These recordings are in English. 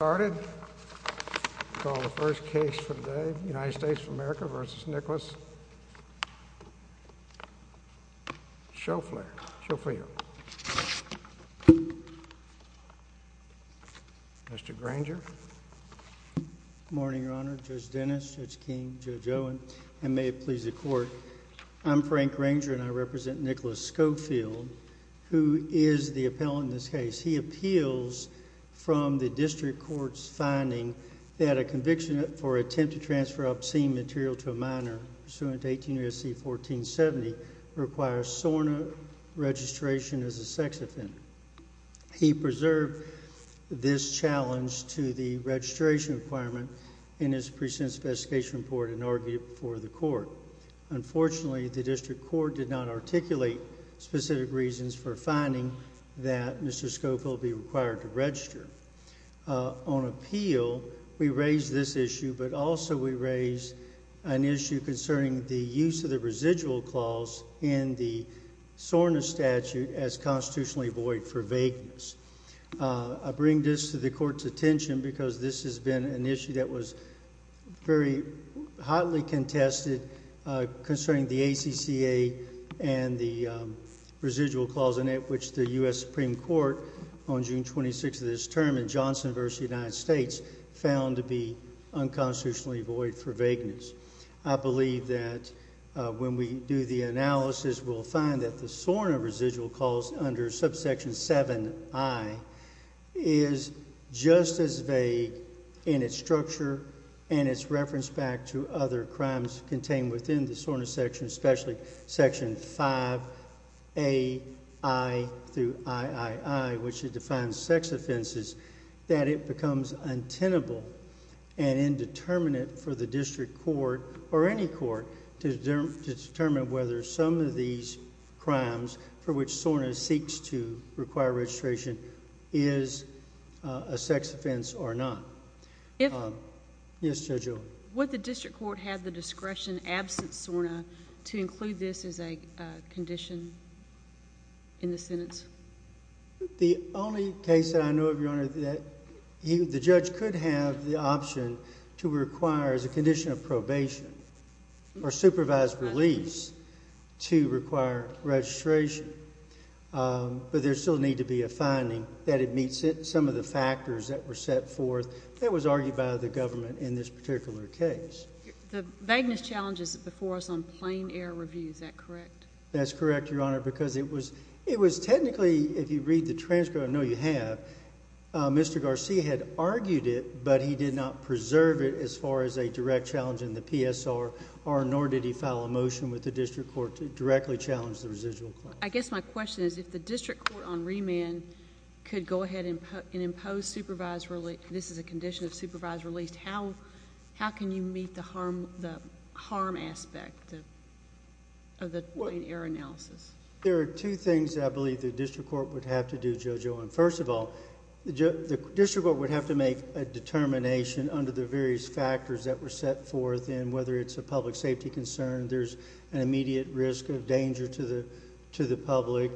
Good morning, Your Honor. Judge Dennis, Judge King, Judge Owen, and may it please the Court, I'm Frank Granger, and I represent Nicholas Schofield, who is the appellant in this case. He appeals from the District Court's finding that a conviction for attempt to transfer obscene material to a minor pursuant to 18 U.S.C. 1470 requires SORNA registration as a sex offender. He preserved this challenge to the registration requirement in his present investigation report and argued for the Court. Unfortunately, the District Court did not articulate specific reasons for finding that Mr. Schofield will be required to register. On appeal, we raise this issue, but also we raise an issue concerning the use of the residual clause in the SORNA statute as constitutionally void for vagueness. I bring this to the Court's attention because this has been an issue that was very hotly contested concerning the ACCA and the residual clause in it, which the U.S. Supreme Court on June 26 of this term in Johnson v. United States found to be unconstitutionally void for vagueness. I believe that when we do the analysis, we'll find that the SORNA residual clause under subsection 7i is just as vague in its structure and its reference back to other crimes contained within the SORNA section, especially section 5A-I through I-I-I, which defines sex offenses, that it becomes untenable and indeterminate for the District Court or any court to determine whether some of these crimes for which SORNA seeks to require registration is a sex offense or not. Yes, Judge Oldham. Would the District Court have the discretion, absent SORNA, to include this as a condition in the sentence? The only case that I know of, Your Honor, that the judge could have the option to require as a condition of probation or supervised release to require registration, but there still needs to be a finding that it meets some of the factors that were set forth that was argued by the government in this particular case. The vagueness challenge is before us on plain-air review. Is that correct? That's correct, Your Honor, because it was technically, if you read the transcript, I know you have, Mr. Garcia had argued it, but he did not preserve it as far as a direct challenge in the PSR, nor did he file a motion with the District Court to directly challenge the residual clause. I guess my question is if the District Court on remand could go ahead and impose supervised release, this is a condition of supervised release, how can you meet the harm aspect of the plain-air analysis? There are two things I believe the District Court would have to do, Judge Oldham. First of all, the District Court would have to make a determination under the various factors that were set forth, and whether it's a public safety concern, there's an immediate risk of danger to the public,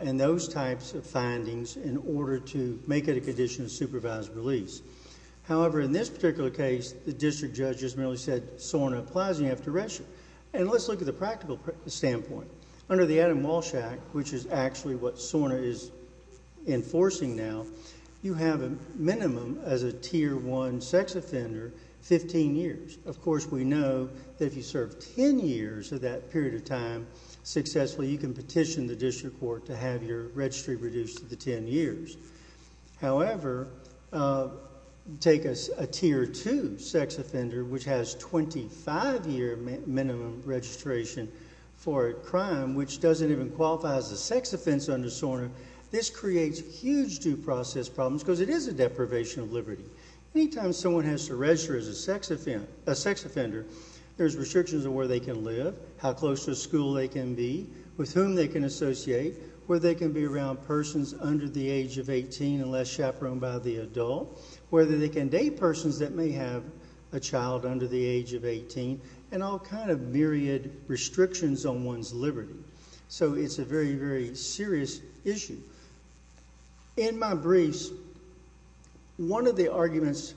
and those types of findings in order to make it a condition of supervised release. However, in this particular case, the District Judge has merely said SORNA applies and you have to register. And let's look at the practical standpoint. Under the Adam Walsh Act, which is actually what SORNA is enforcing now, you have a minimum as a Tier 1 sex offender, 15 years. Of course, we know that if you serve 10 years of that period of time successfully, you can petition the District Court to have your registry reduced to the 10 years. However, take a Tier 2 sex offender, which has 25-year minimum registration for a crime, which doesn't even qualify as a sex offense under SORNA, this creates huge due process problems because it is a deprivation of liberty. Anytime someone has to register as a sex offender, there's restrictions on where they can live, how close to a school they can be, with whom they can associate, where they can be around persons under the age of 18 and less chaperoned by the adult, whether they can date persons that may have a child under the age of 18, and all kind of myriad restrictions on one's liberty. So it's a very, very serious issue. In my briefs, one of the arguments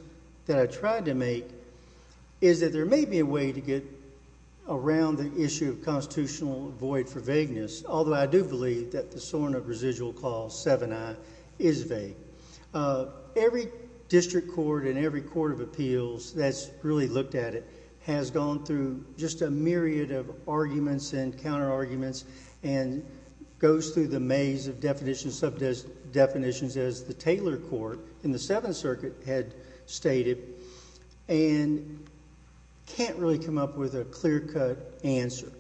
that I tried to make is that there may be a way to get around the issue of constitutional void for vagueness, although I do believe that the SORNA residual clause 7i is vague. Every District Court and every Court of Appeals that's really looked at it has gone through just a myriad of arguments and counterarguments and goes through the maze of definitions, sub-definitions, as the Taylor Court in the Seventh Circuit had stated and can't really come up with a clear-cut answer.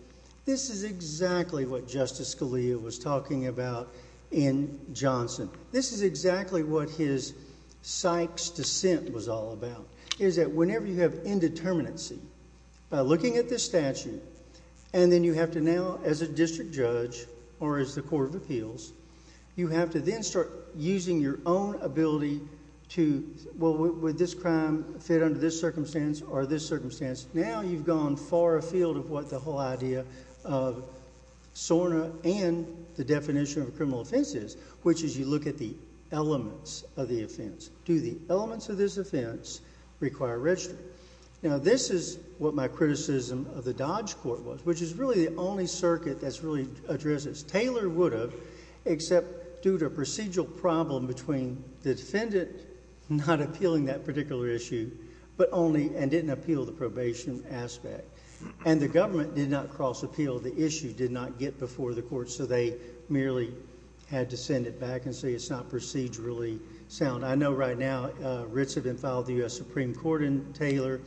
This is exactly what Justice Scalia was talking about in Johnson. This is exactly what his Sykes dissent was all about, is that whenever you have indeterminacy, by looking at this statute, and then you have to now, as a District Judge or as the Court of Appeals, you have to then start using your own ability to, well, would this crime fit under this circumstance or this circumstance? Now you've gone far afield of what the whole idea of SORNA and the definition of a criminal offense is, which is you look at the elements of the offense. Do the elements of this offense require registry? Now this is what my criticism of the Dodge Court was, which is really the only circuit that's really addressed this. Taylor would have, except due to a procedural problem between the defendant not appealing that particular issue, but only and didn't appeal the probation aspect. And the government did not cross-appeal the issue, did not get before the court, so they merely had to send it back and say it's not procedurally sound. I know right now, Ritz had been filed to the U.S. Supreme Court in Taylor,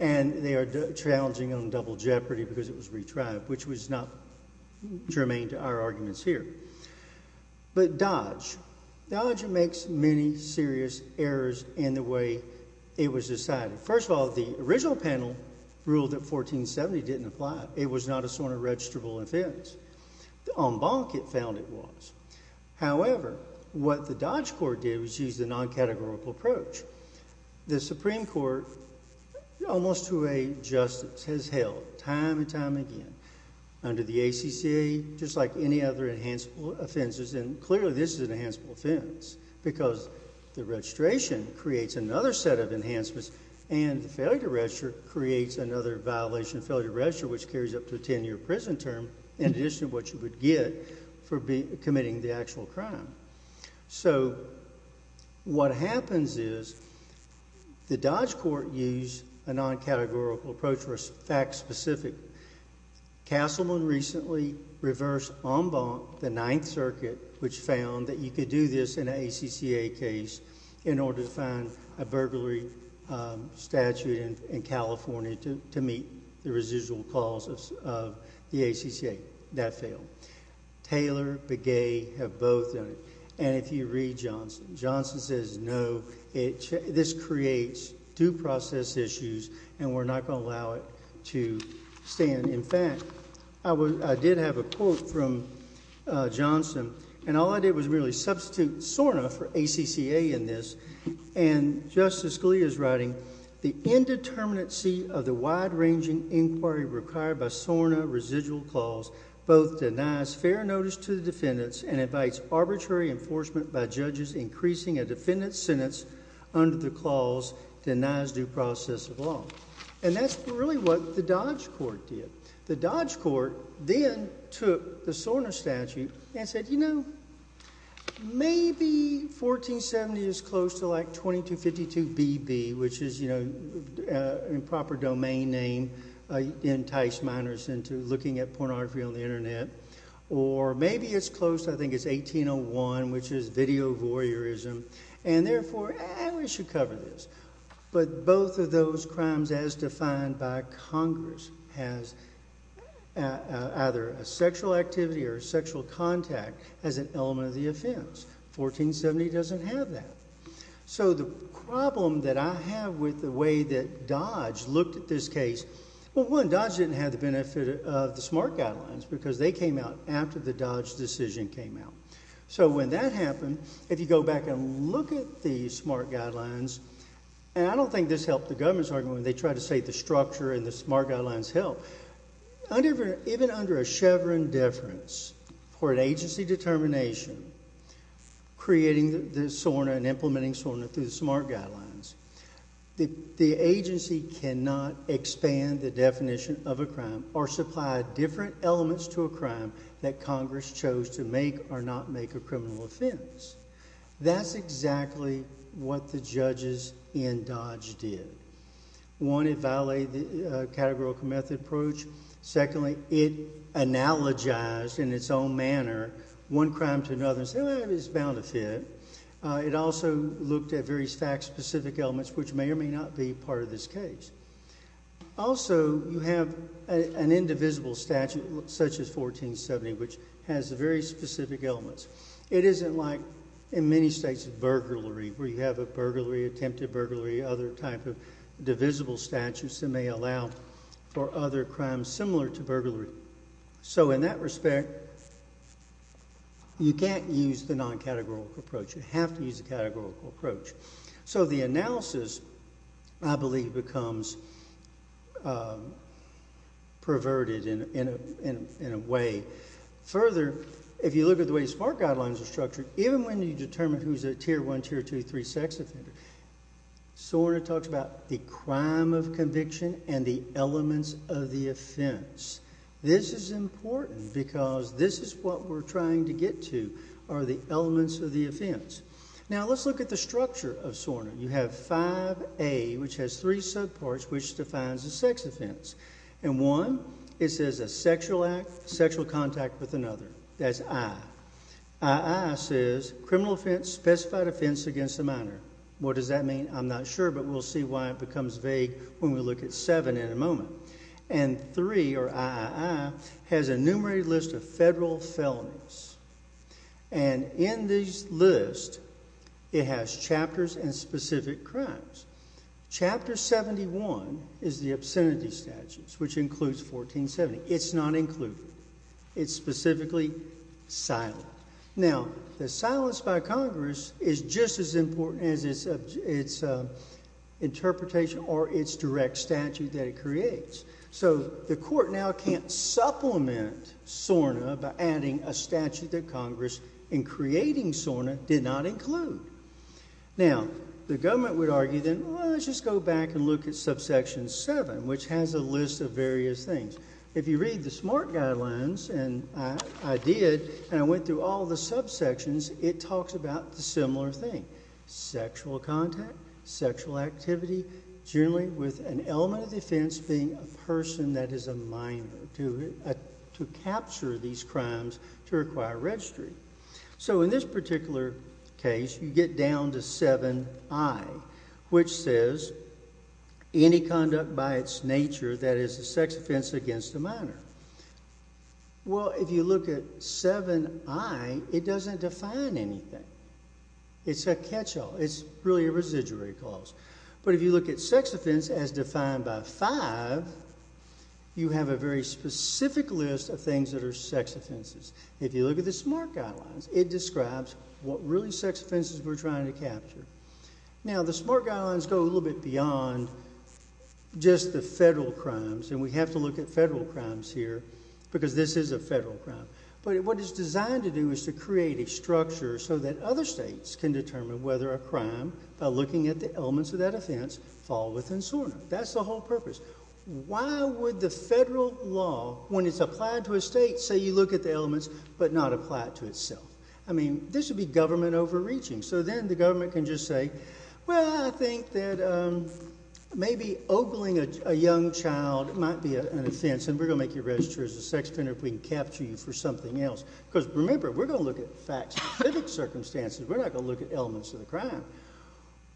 and they are challenging on double jeopardy because it was retried, which was not germane to our arguments here. But Dodge, Dodge makes many serious errors in the way it was decided. First of all, the original panel ruled that 1470 didn't apply. It was not a SORNA registrable offense. The en banc it found it was. However, what the Dodge Court did was use the non-categorical approach. The Supreme Court, almost to a justice, has held time and time again under the ACCA, just like any other enhanceable offenses, and clearly this is an enhanceable offense, because the registration creates another set of enhancements, and the failure to register creates another violation of failure to register, which carries up to a 10-year prison term, in addition to what you would get for committing the actual crime. So what happens is the Dodge Court used a non-categorical approach for a fact-specific. Castleman recently reversed en banc the Ninth Circuit, which found that you could do this in an ACCA case in order to find a burglary statute in California to meet the residual clauses of the ACCA. That failed. Taylor, Begay have both done it. And if you read Johnson, Johnson says, no, this creates due process issues, and we're not going to allow it to stand. In fact, I did have a quote from Johnson, and all I did was really substitute SORNA for ACCA in this. And Justice Scalia's writing, the indeterminacy of the wide-ranging inquiry required by SORNA residual clause both denies fair notice to the defendants and invites arbitrary enforcement by judges increasing a defendant's sentence under the clause denies due process of law. And that's really what the Dodge Court did. The Dodge Court then took the SORNA statute and said, you know, maybe 1470 is close to like 2252BB, which is, you know, improper domain name enticed minors into looking at pornography on the internet. Or maybe it's close, I think it's 1801, which is video voyeurism. And therefore, eh, we should cover this. But both of those crimes, as defined by Congress, has either a sexual activity or sexual contact as an element of the offense. 1470 doesn't have that. So the problem that I have with the way that Dodge looked at this case, well, one, Dodge didn't have the benefit of the SMART guidelines because they came out after the Dodge decision came out. So when that happened, if you go back and look at the SMART guidelines, and I don't think this helped the government's argument when they tried to say the structure and the SMART guidelines helped. Even under a Chevron deference for an agency determination, creating the SORNA and implementing SORNA through the SMART guidelines, the agency cannot expand the definition of a crime or supply different elements to a crime that Congress chose to make or not make a criminal offense. That's exactly what the judges in Dodge did. One, it violated the categorical method approach. Secondly, it analogized in its own manner one crime to another and said, well, it's bound to fit. It also looked at various fact-specific elements, which may or may not be part of this case. Also, you have an indivisible statute, such as 1470, which has very specific elements. It isn't like in many states, burglary, where you have a burglary, attempted burglary, other type of divisible statutes that may allow for other crimes similar to burglary. So in that respect, you can't use the non-categorical approach. You have to use a categorical approach. So the analysis, I believe, becomes perverted in a way. Further, if you look at the way SMART guidelines are structured, even when you determine who's a tier one, tier two, three sex offender, SORNA talks about the crime of conviction and the elements of the offense. This is important because this is what we're trying to get to, are the elements of the offense. Now, let's look at the structure of SORNA. You have 5A, which has three subparts, which defines a sex offense. And one, it says a sexual act, sexual contact with another. That's I. III says criminal offense, specified offense against a minor. What does that mean? I'm not sure, but we'll see why it becomes vague when we look at seven in a moment. And III, or III, has a numerated list of federal felonies. And in this list, it has chapters and specific crimes. Chapter 71 is the obscenity statutes, which includes 1470. It's not included. It's specifically silent. Now, the silence by Congress is just as important as its interpretation or its direct statute that it creates. So the court now can't supplement SORNA by adding a statute that Congress, in creating SORNA, did not include. Now, the government would argue then, well, let's just go back and look at subsection 7, which has a list of various things. If you read the SMART guidelines, and I did, and I went through all the subsections, it talks about the similar thing. Sexual contact, sexual activity, generally with an element of defense being a person that is a minor to capture these crimes to require registry. So in this particular case, you get down to VIII, which says any conduct by its nature that is a sex offense against a minor. Well, if you look at VIII, it doesn't define anything. It's a catch-all. It's really a residuary clause. But if you look at sex offense as defined by V, you have a very specific list of things that are sex offenses. If you look at the SMART guidelines, it describes what really sex offenses we're trying to capture. Now, the SMART guidelines go a little bit beyond just the federal crimes, and we have to look at federal crimes here because this is a federal crime. But what it's designed to do is to create a structure so that other states can determine whether a crime, by looking at the elements of that offense, fall within SORNA. That's the whole purpose. Why would the federal law, when it's applied to a state, say you look at the elements but not apply it to itself? I mean, this would be government overreaching. So then the government can just say, well, I think that maybe ogling a young child might be an offense, and we're going to make you register as a sex offender if we can capture you for something else. Because remember, we're going to look at fact-specific circumstances. We're not going to look at elements of the crime.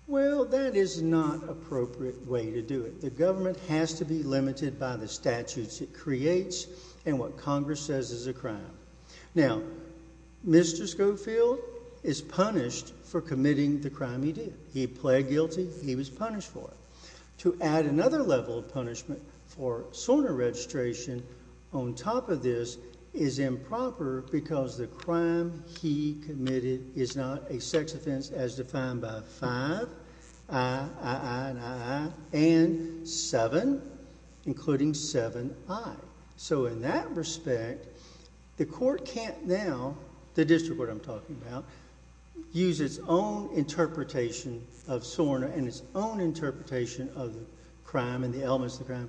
Well, that is not an appropriate way to do it. The government has to be limited by the statutes it creates and what Congress says is a crime. Now, Mr. Schofield is punished for committing the crime he did. He pled guilty. He was punished for it. To add another level of punishment for SORNA registration on top of this is improper because the crime he committed is not a sex offense as defined by five, I, I, I, and I, I, and seven, including seven I. So in that respect, the court can't now, the district court I'm talking about, use its own interpretation of SORNA and its own interpretation of the crime and the elements of the crime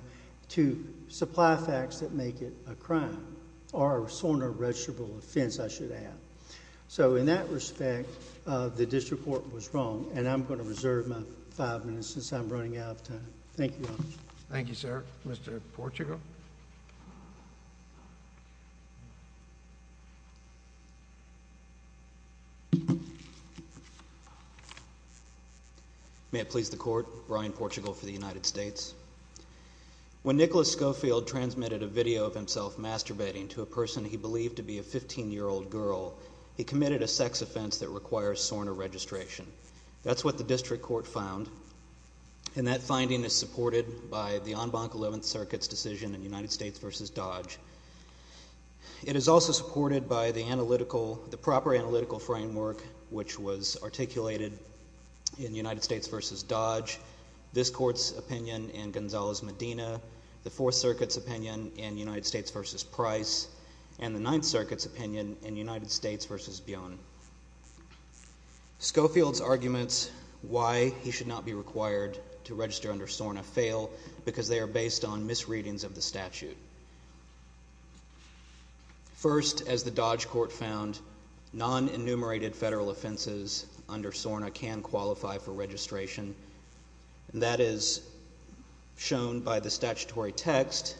to supply facts that make it a crime or a SORNA-registrable offense, I should add. So in that respect, the district court was wrong, and I'm going to reserve my five minutes since I'm running out of time. Thank you all. Thank you, sir. Mr. Portugal. May it please the court, Brian Portugal for the United States. When Nicholas Schofield transmitted a video of himself masturbating to a person he believed to be a 15-year-old girl, he committed a sex offense that requires SORNA registration. That's what the district court found, and that finding is supported by the En Banc 11th Circuit's decision in United States v. Dodge. It is also supported by the analytical, the proper analytical framework which was articulated in United States v. Dodge. This court's opinion in Gonzales-Medina, the Fourth Circuit's opinion in United States v. Price, and the Ninth Circuit's opinion in United States v. Bione. Schofield's arguments why he should not be required to register under SORNA fail because they are based on misreadings of the statute. First, as the Dodge court found, non-enumerated federal offenses under SORNA can qualify for registration. That is shown by the statutory text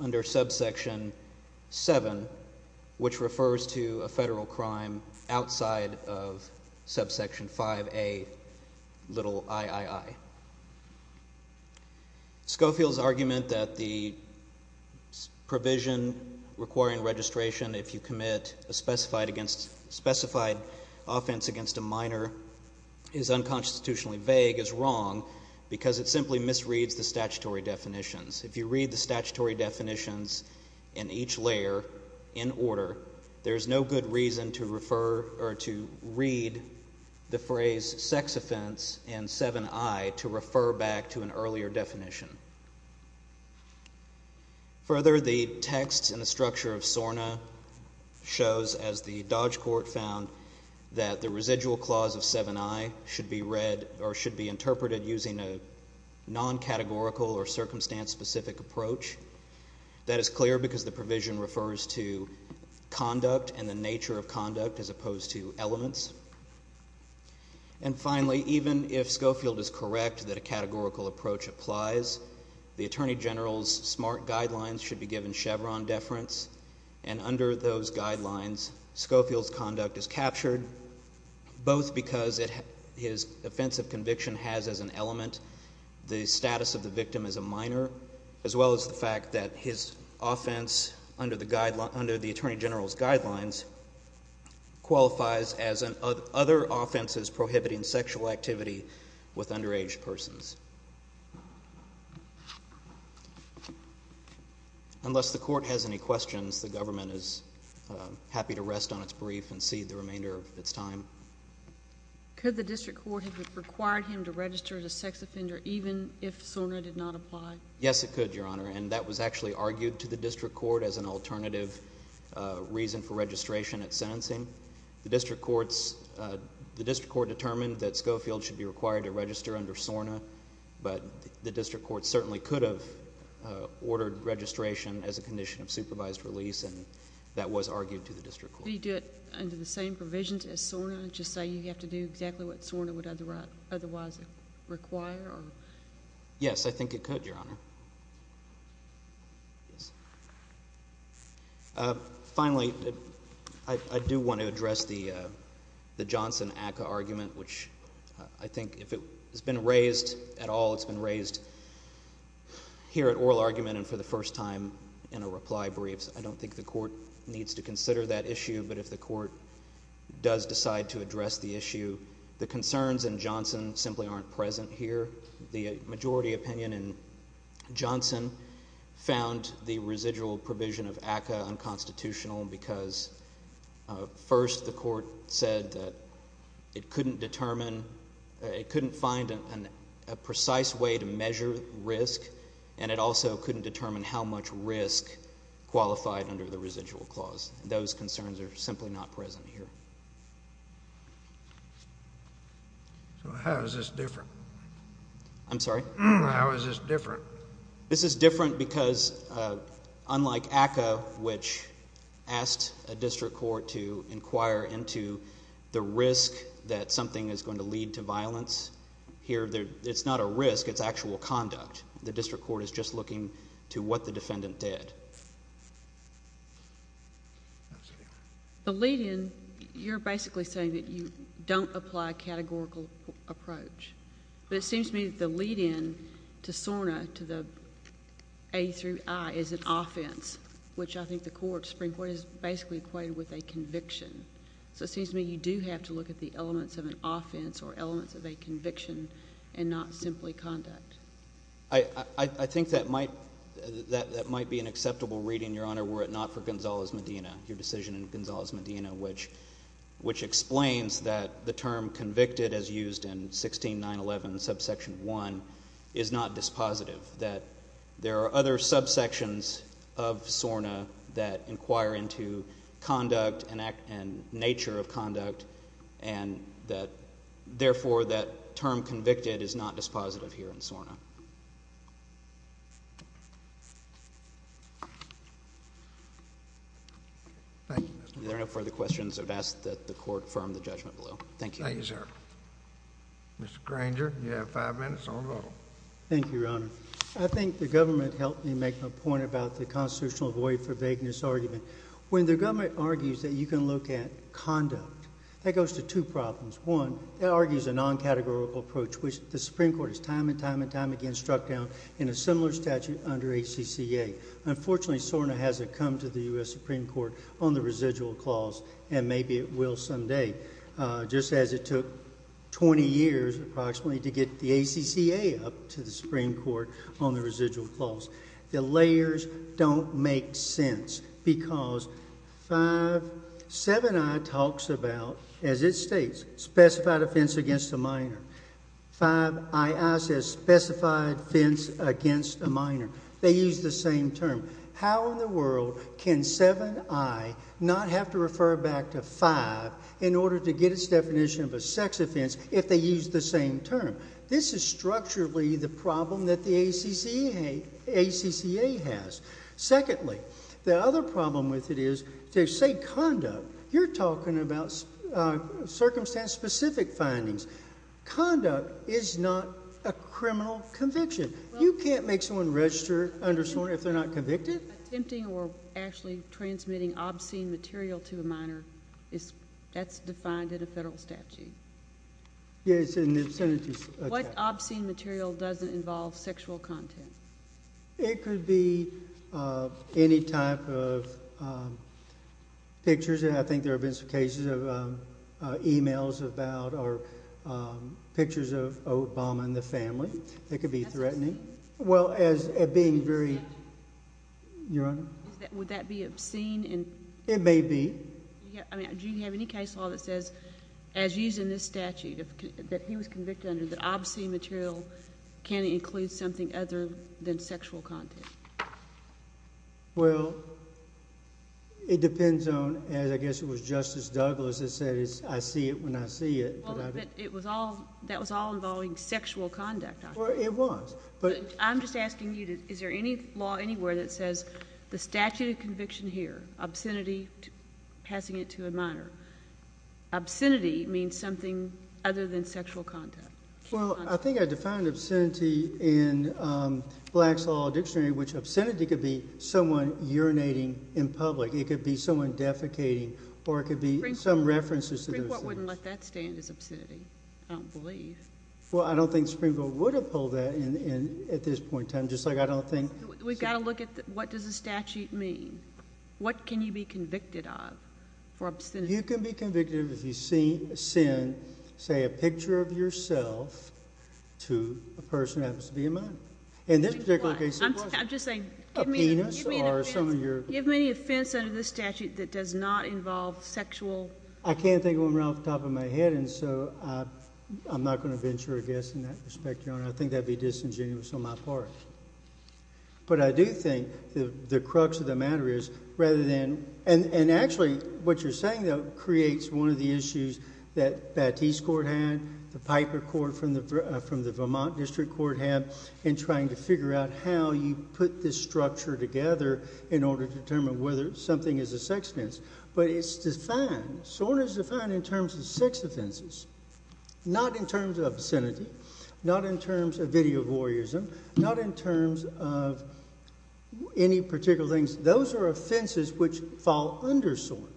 under subsection 7, which refers to a federal crime outside of subsection 5A, little III. Schofield's argument that the provision requiring registration if you commit a specified offense against a minor is unconstitutionally vague is wrong because it simply misreads the statutory definitions. If you read the statutory definitions in each layer in order, there's no good reason to refer or to read the phrase sex offense in 7I to refer back to an earlier definition. Further, the text in the structure of SORNA shows, as the Dodge court found, that the residual clause of 7I should be read or should be interpreted using a non-categorical or circumstance-specific approach. That is clear because the provision refers to conduct and the nature of conduct as opposed to elements. And finally, even if Schofield is correct that a categorical approach applies, the Attorney General's SMART guidelines should be given Chevron deference. And under those guidelines, Schofield's conduct is captured, both because his offense of conviction has as an element the status of the victim as a minor, as well as the fact that his offense under the Attorney General's guidelines qualifies as other offenses prohibiting sexual activity with underage persons. Unless the court has any questions, the government is happy to rest on its brief and cede the remainder of its time. Could the district court have required him to register as a sex offender even if SORNA did not apply? Yes, it could, Your Honor, and that was actually argued to the district court as an alternative reason for registration at sentencing. The district court determined that Schofield should be required to register under SORNA, but the district court certainly could have ordered registration as a condition of supervised release, and that was argued to the district court. Could he do it under the same provisions as SORNA, just say you have to do exactly what SORNA would otherwise require? Yes, I think it could, Your Honor. Finally, I do want to address the Johnson-Aca argument, which I think if it has been raised at all, it's been raised here at oral argument and for the first time in a reply brief. I don't think the court needs to consider that issue, but if the court does decide to address the issue, the concerns in Johnson simply aren't present here. The majority opinion in Johnson found the residual provision of ACA unconstitutional because, first, the court said that it couldn't determine, it couldn't find a precise way to measure risk, and it also couldn't determine how much risk qualified under the residual clause. Those concerns are simply not present here. So how is this different? I'm sorry? How is this different? This is different because, unlike ACA, which asked a district court to inquire into the risk that something is going to lead to violence, here it's not a risk, it's actual conduct. The district court is just looking to what the defendant did. The lead-in, you're basically saying that you don't apply a categorical approach. But it seems to me that the lead-in to SORNA, to the A through I, is an offense, which I think the Supreme Court has basically equated with a conviction. So it seems to me you do have to look at the elements of an offense or elements of a conviction and not simply conduct. I think that might be an acceptable reading, Your Honor, were it not for Gonzales-Medina, your decision in Gonzales-Medina, which explains that the term convicted, as used in 16.911, subsection 1, is not dispositive, that there are other subsections of SORNA that inquire into conduct and nature of conduct, and that, therefore, that term convicted is not dispositive here in SORNA. Thank you, Mr. Granger. If there are no further questions, I would ask that the Court confirm the judgment below. Thank you. Thank you, sir. Mr. Granger, you have five minutes on the roll. Thank you, Your Honor. I think the government helped me make a point about the constitutional void for vagueness argument. When the government argues that you can look at conduct, that goes to two problems. One, it argues a non-categorical approach, which the Supreme Court has time and time and time again struck down in a similar statute under ACCA. Unfortunately, SORNA hasn't come to the U.S. Supreme Court on the residual clause, and maybe it will someday. Just as it took 20 years, approximately, to get the ACCA up to the Supreme Court on the residual clause. The layers don't make sense because 5-7i talks about, as it states, specified offense against a minor. 5-ii says specified offense against a minor. They use the same term. How in the world can 7-i not have to refer back to 5 in order to get its definition of a sex offense if they use the same term? This is structurally the problem that the ACCA has. Secondly, the other problem with it is, to say conduct, you're talking about circumstance-specific findings. Conduct is not a criminal conviction. You can't make someone register under SORNA if they're not convicted. Attempting or actually transmitting obscene material to a minor, that's defined in a federal statute. Yes, it's in the obscenity statute. What obscene material doesn't involve sexual content? It could be any type of pictures, and I think there have been some cases of emails about or pictures of Obama and the family. It could be threatening. Would that be obscene? It may be. Do you have any case law that says, as used in this statute, that he was convicted under the obscene material, can it include something other than sexual content? Well, it depends on, as I guess it was Justice Douglas that said, I see it when I see it. That was all involving sexual conduct, I think. It was. I'm just asking you, is there any law anywhere that says the statute of conviction here, obscenity, passing it to a minor, obscenity means something other than sexual content? Well, I think I defined obscenity in Black's Law Dictionary, which obscenity could be someone urinating in public. It could be someone defecating, or it could be some references to those things. The Supreme Court wouldn't let that stand as obscenity, I don't believe. Well, I don't think the Supreme Court would have pulled that in at this point in time, just like I don't think – We've got to look at what does the statute mean. What can you be convicted of for obscenity? You can be convicted if you send, say, a picture of yourself to a person who happens to be a minor. And this particular case – I'm just saying – A penis, or some of your – Do you have any offense under this statute that does not involve sexual – I can't think of one off the top of my head, and so I'm not going to venture a guess in that respect, Your Honor. I think that would be disingenuous on my part. But I do think the crux of the matter is rather than – and actually what you're saying, though, creates one of the issues that Batiste Court had, the Piper Court from the Vermont District Court had, in trying to figure out how you put this structure together in order to determine whether something is a sex offense. But it's defined. SORN is defined in terms of sex offenses, not in terms of obscenity, not in terms of video voyeurism, not in terms of any particular things. Those are offenses which fall under SORN.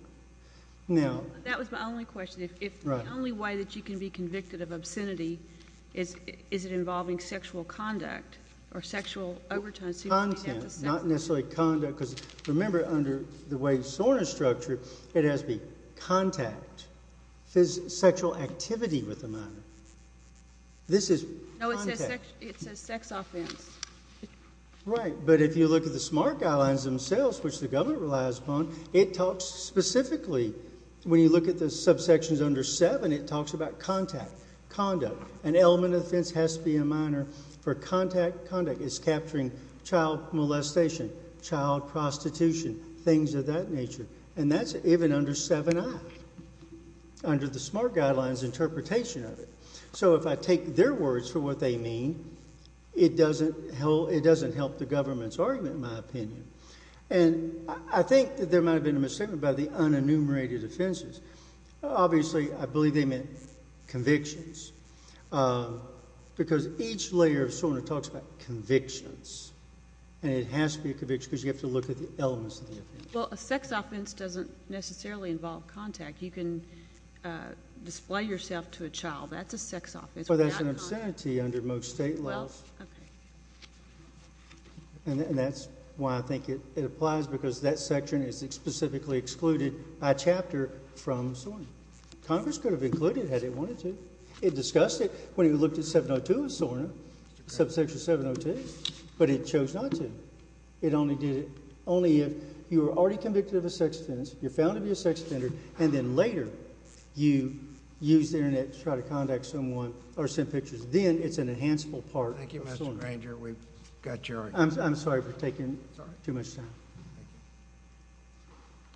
Now – That was my only question. Right. If the only way that you can be convicted of obscenity is it involving sexual conduct or sexual overtones. Content, not necessarily conduct. Because remember, under the way SORN is structured, it has to be contact, sexual activity with a minor. This is – No, it says sex offense. Right. But if you look at the SMART guidelines themselves, which the government relies upon, it talks specifically – when you look at the subsections under 7, it talks about contact, conduct. An element of offense has to be a minor for contact, conduct. It's capturing child molestation, child prostitution, things of that nature. And that's even under 7i, under the SMART guidelines interpretation of it. So if I take their words for what they mean, it doesn't help the government's argument, in my opinion. And I think that there might have been a mistake about the unenumerated offenses. Obviously, I believe they meant convictions. Because each layer of SORN talks about convictions. And it has to be a conviction because you have to look at the elements of the offense. Well, a sex offense doesn't necessarily involve contact. You can display yourself to a child. That's a sex offense. Well, that's an obscenity under most state laws. Well, okay. And that's why I think it applies because that section is specifically excluded by chapter from SORN. Congress could have included it had it wanted to. It discussed it when it looked at 702 of SORN, subsection 702. But it chose not to. It only did it only if you were already convicted of a sex offense, you're found to be a sex offender, and then later you use the Internet to try to contact someone or send pictures. Then it's an enhanceable part of SORN. I'm sorry for taking too much time.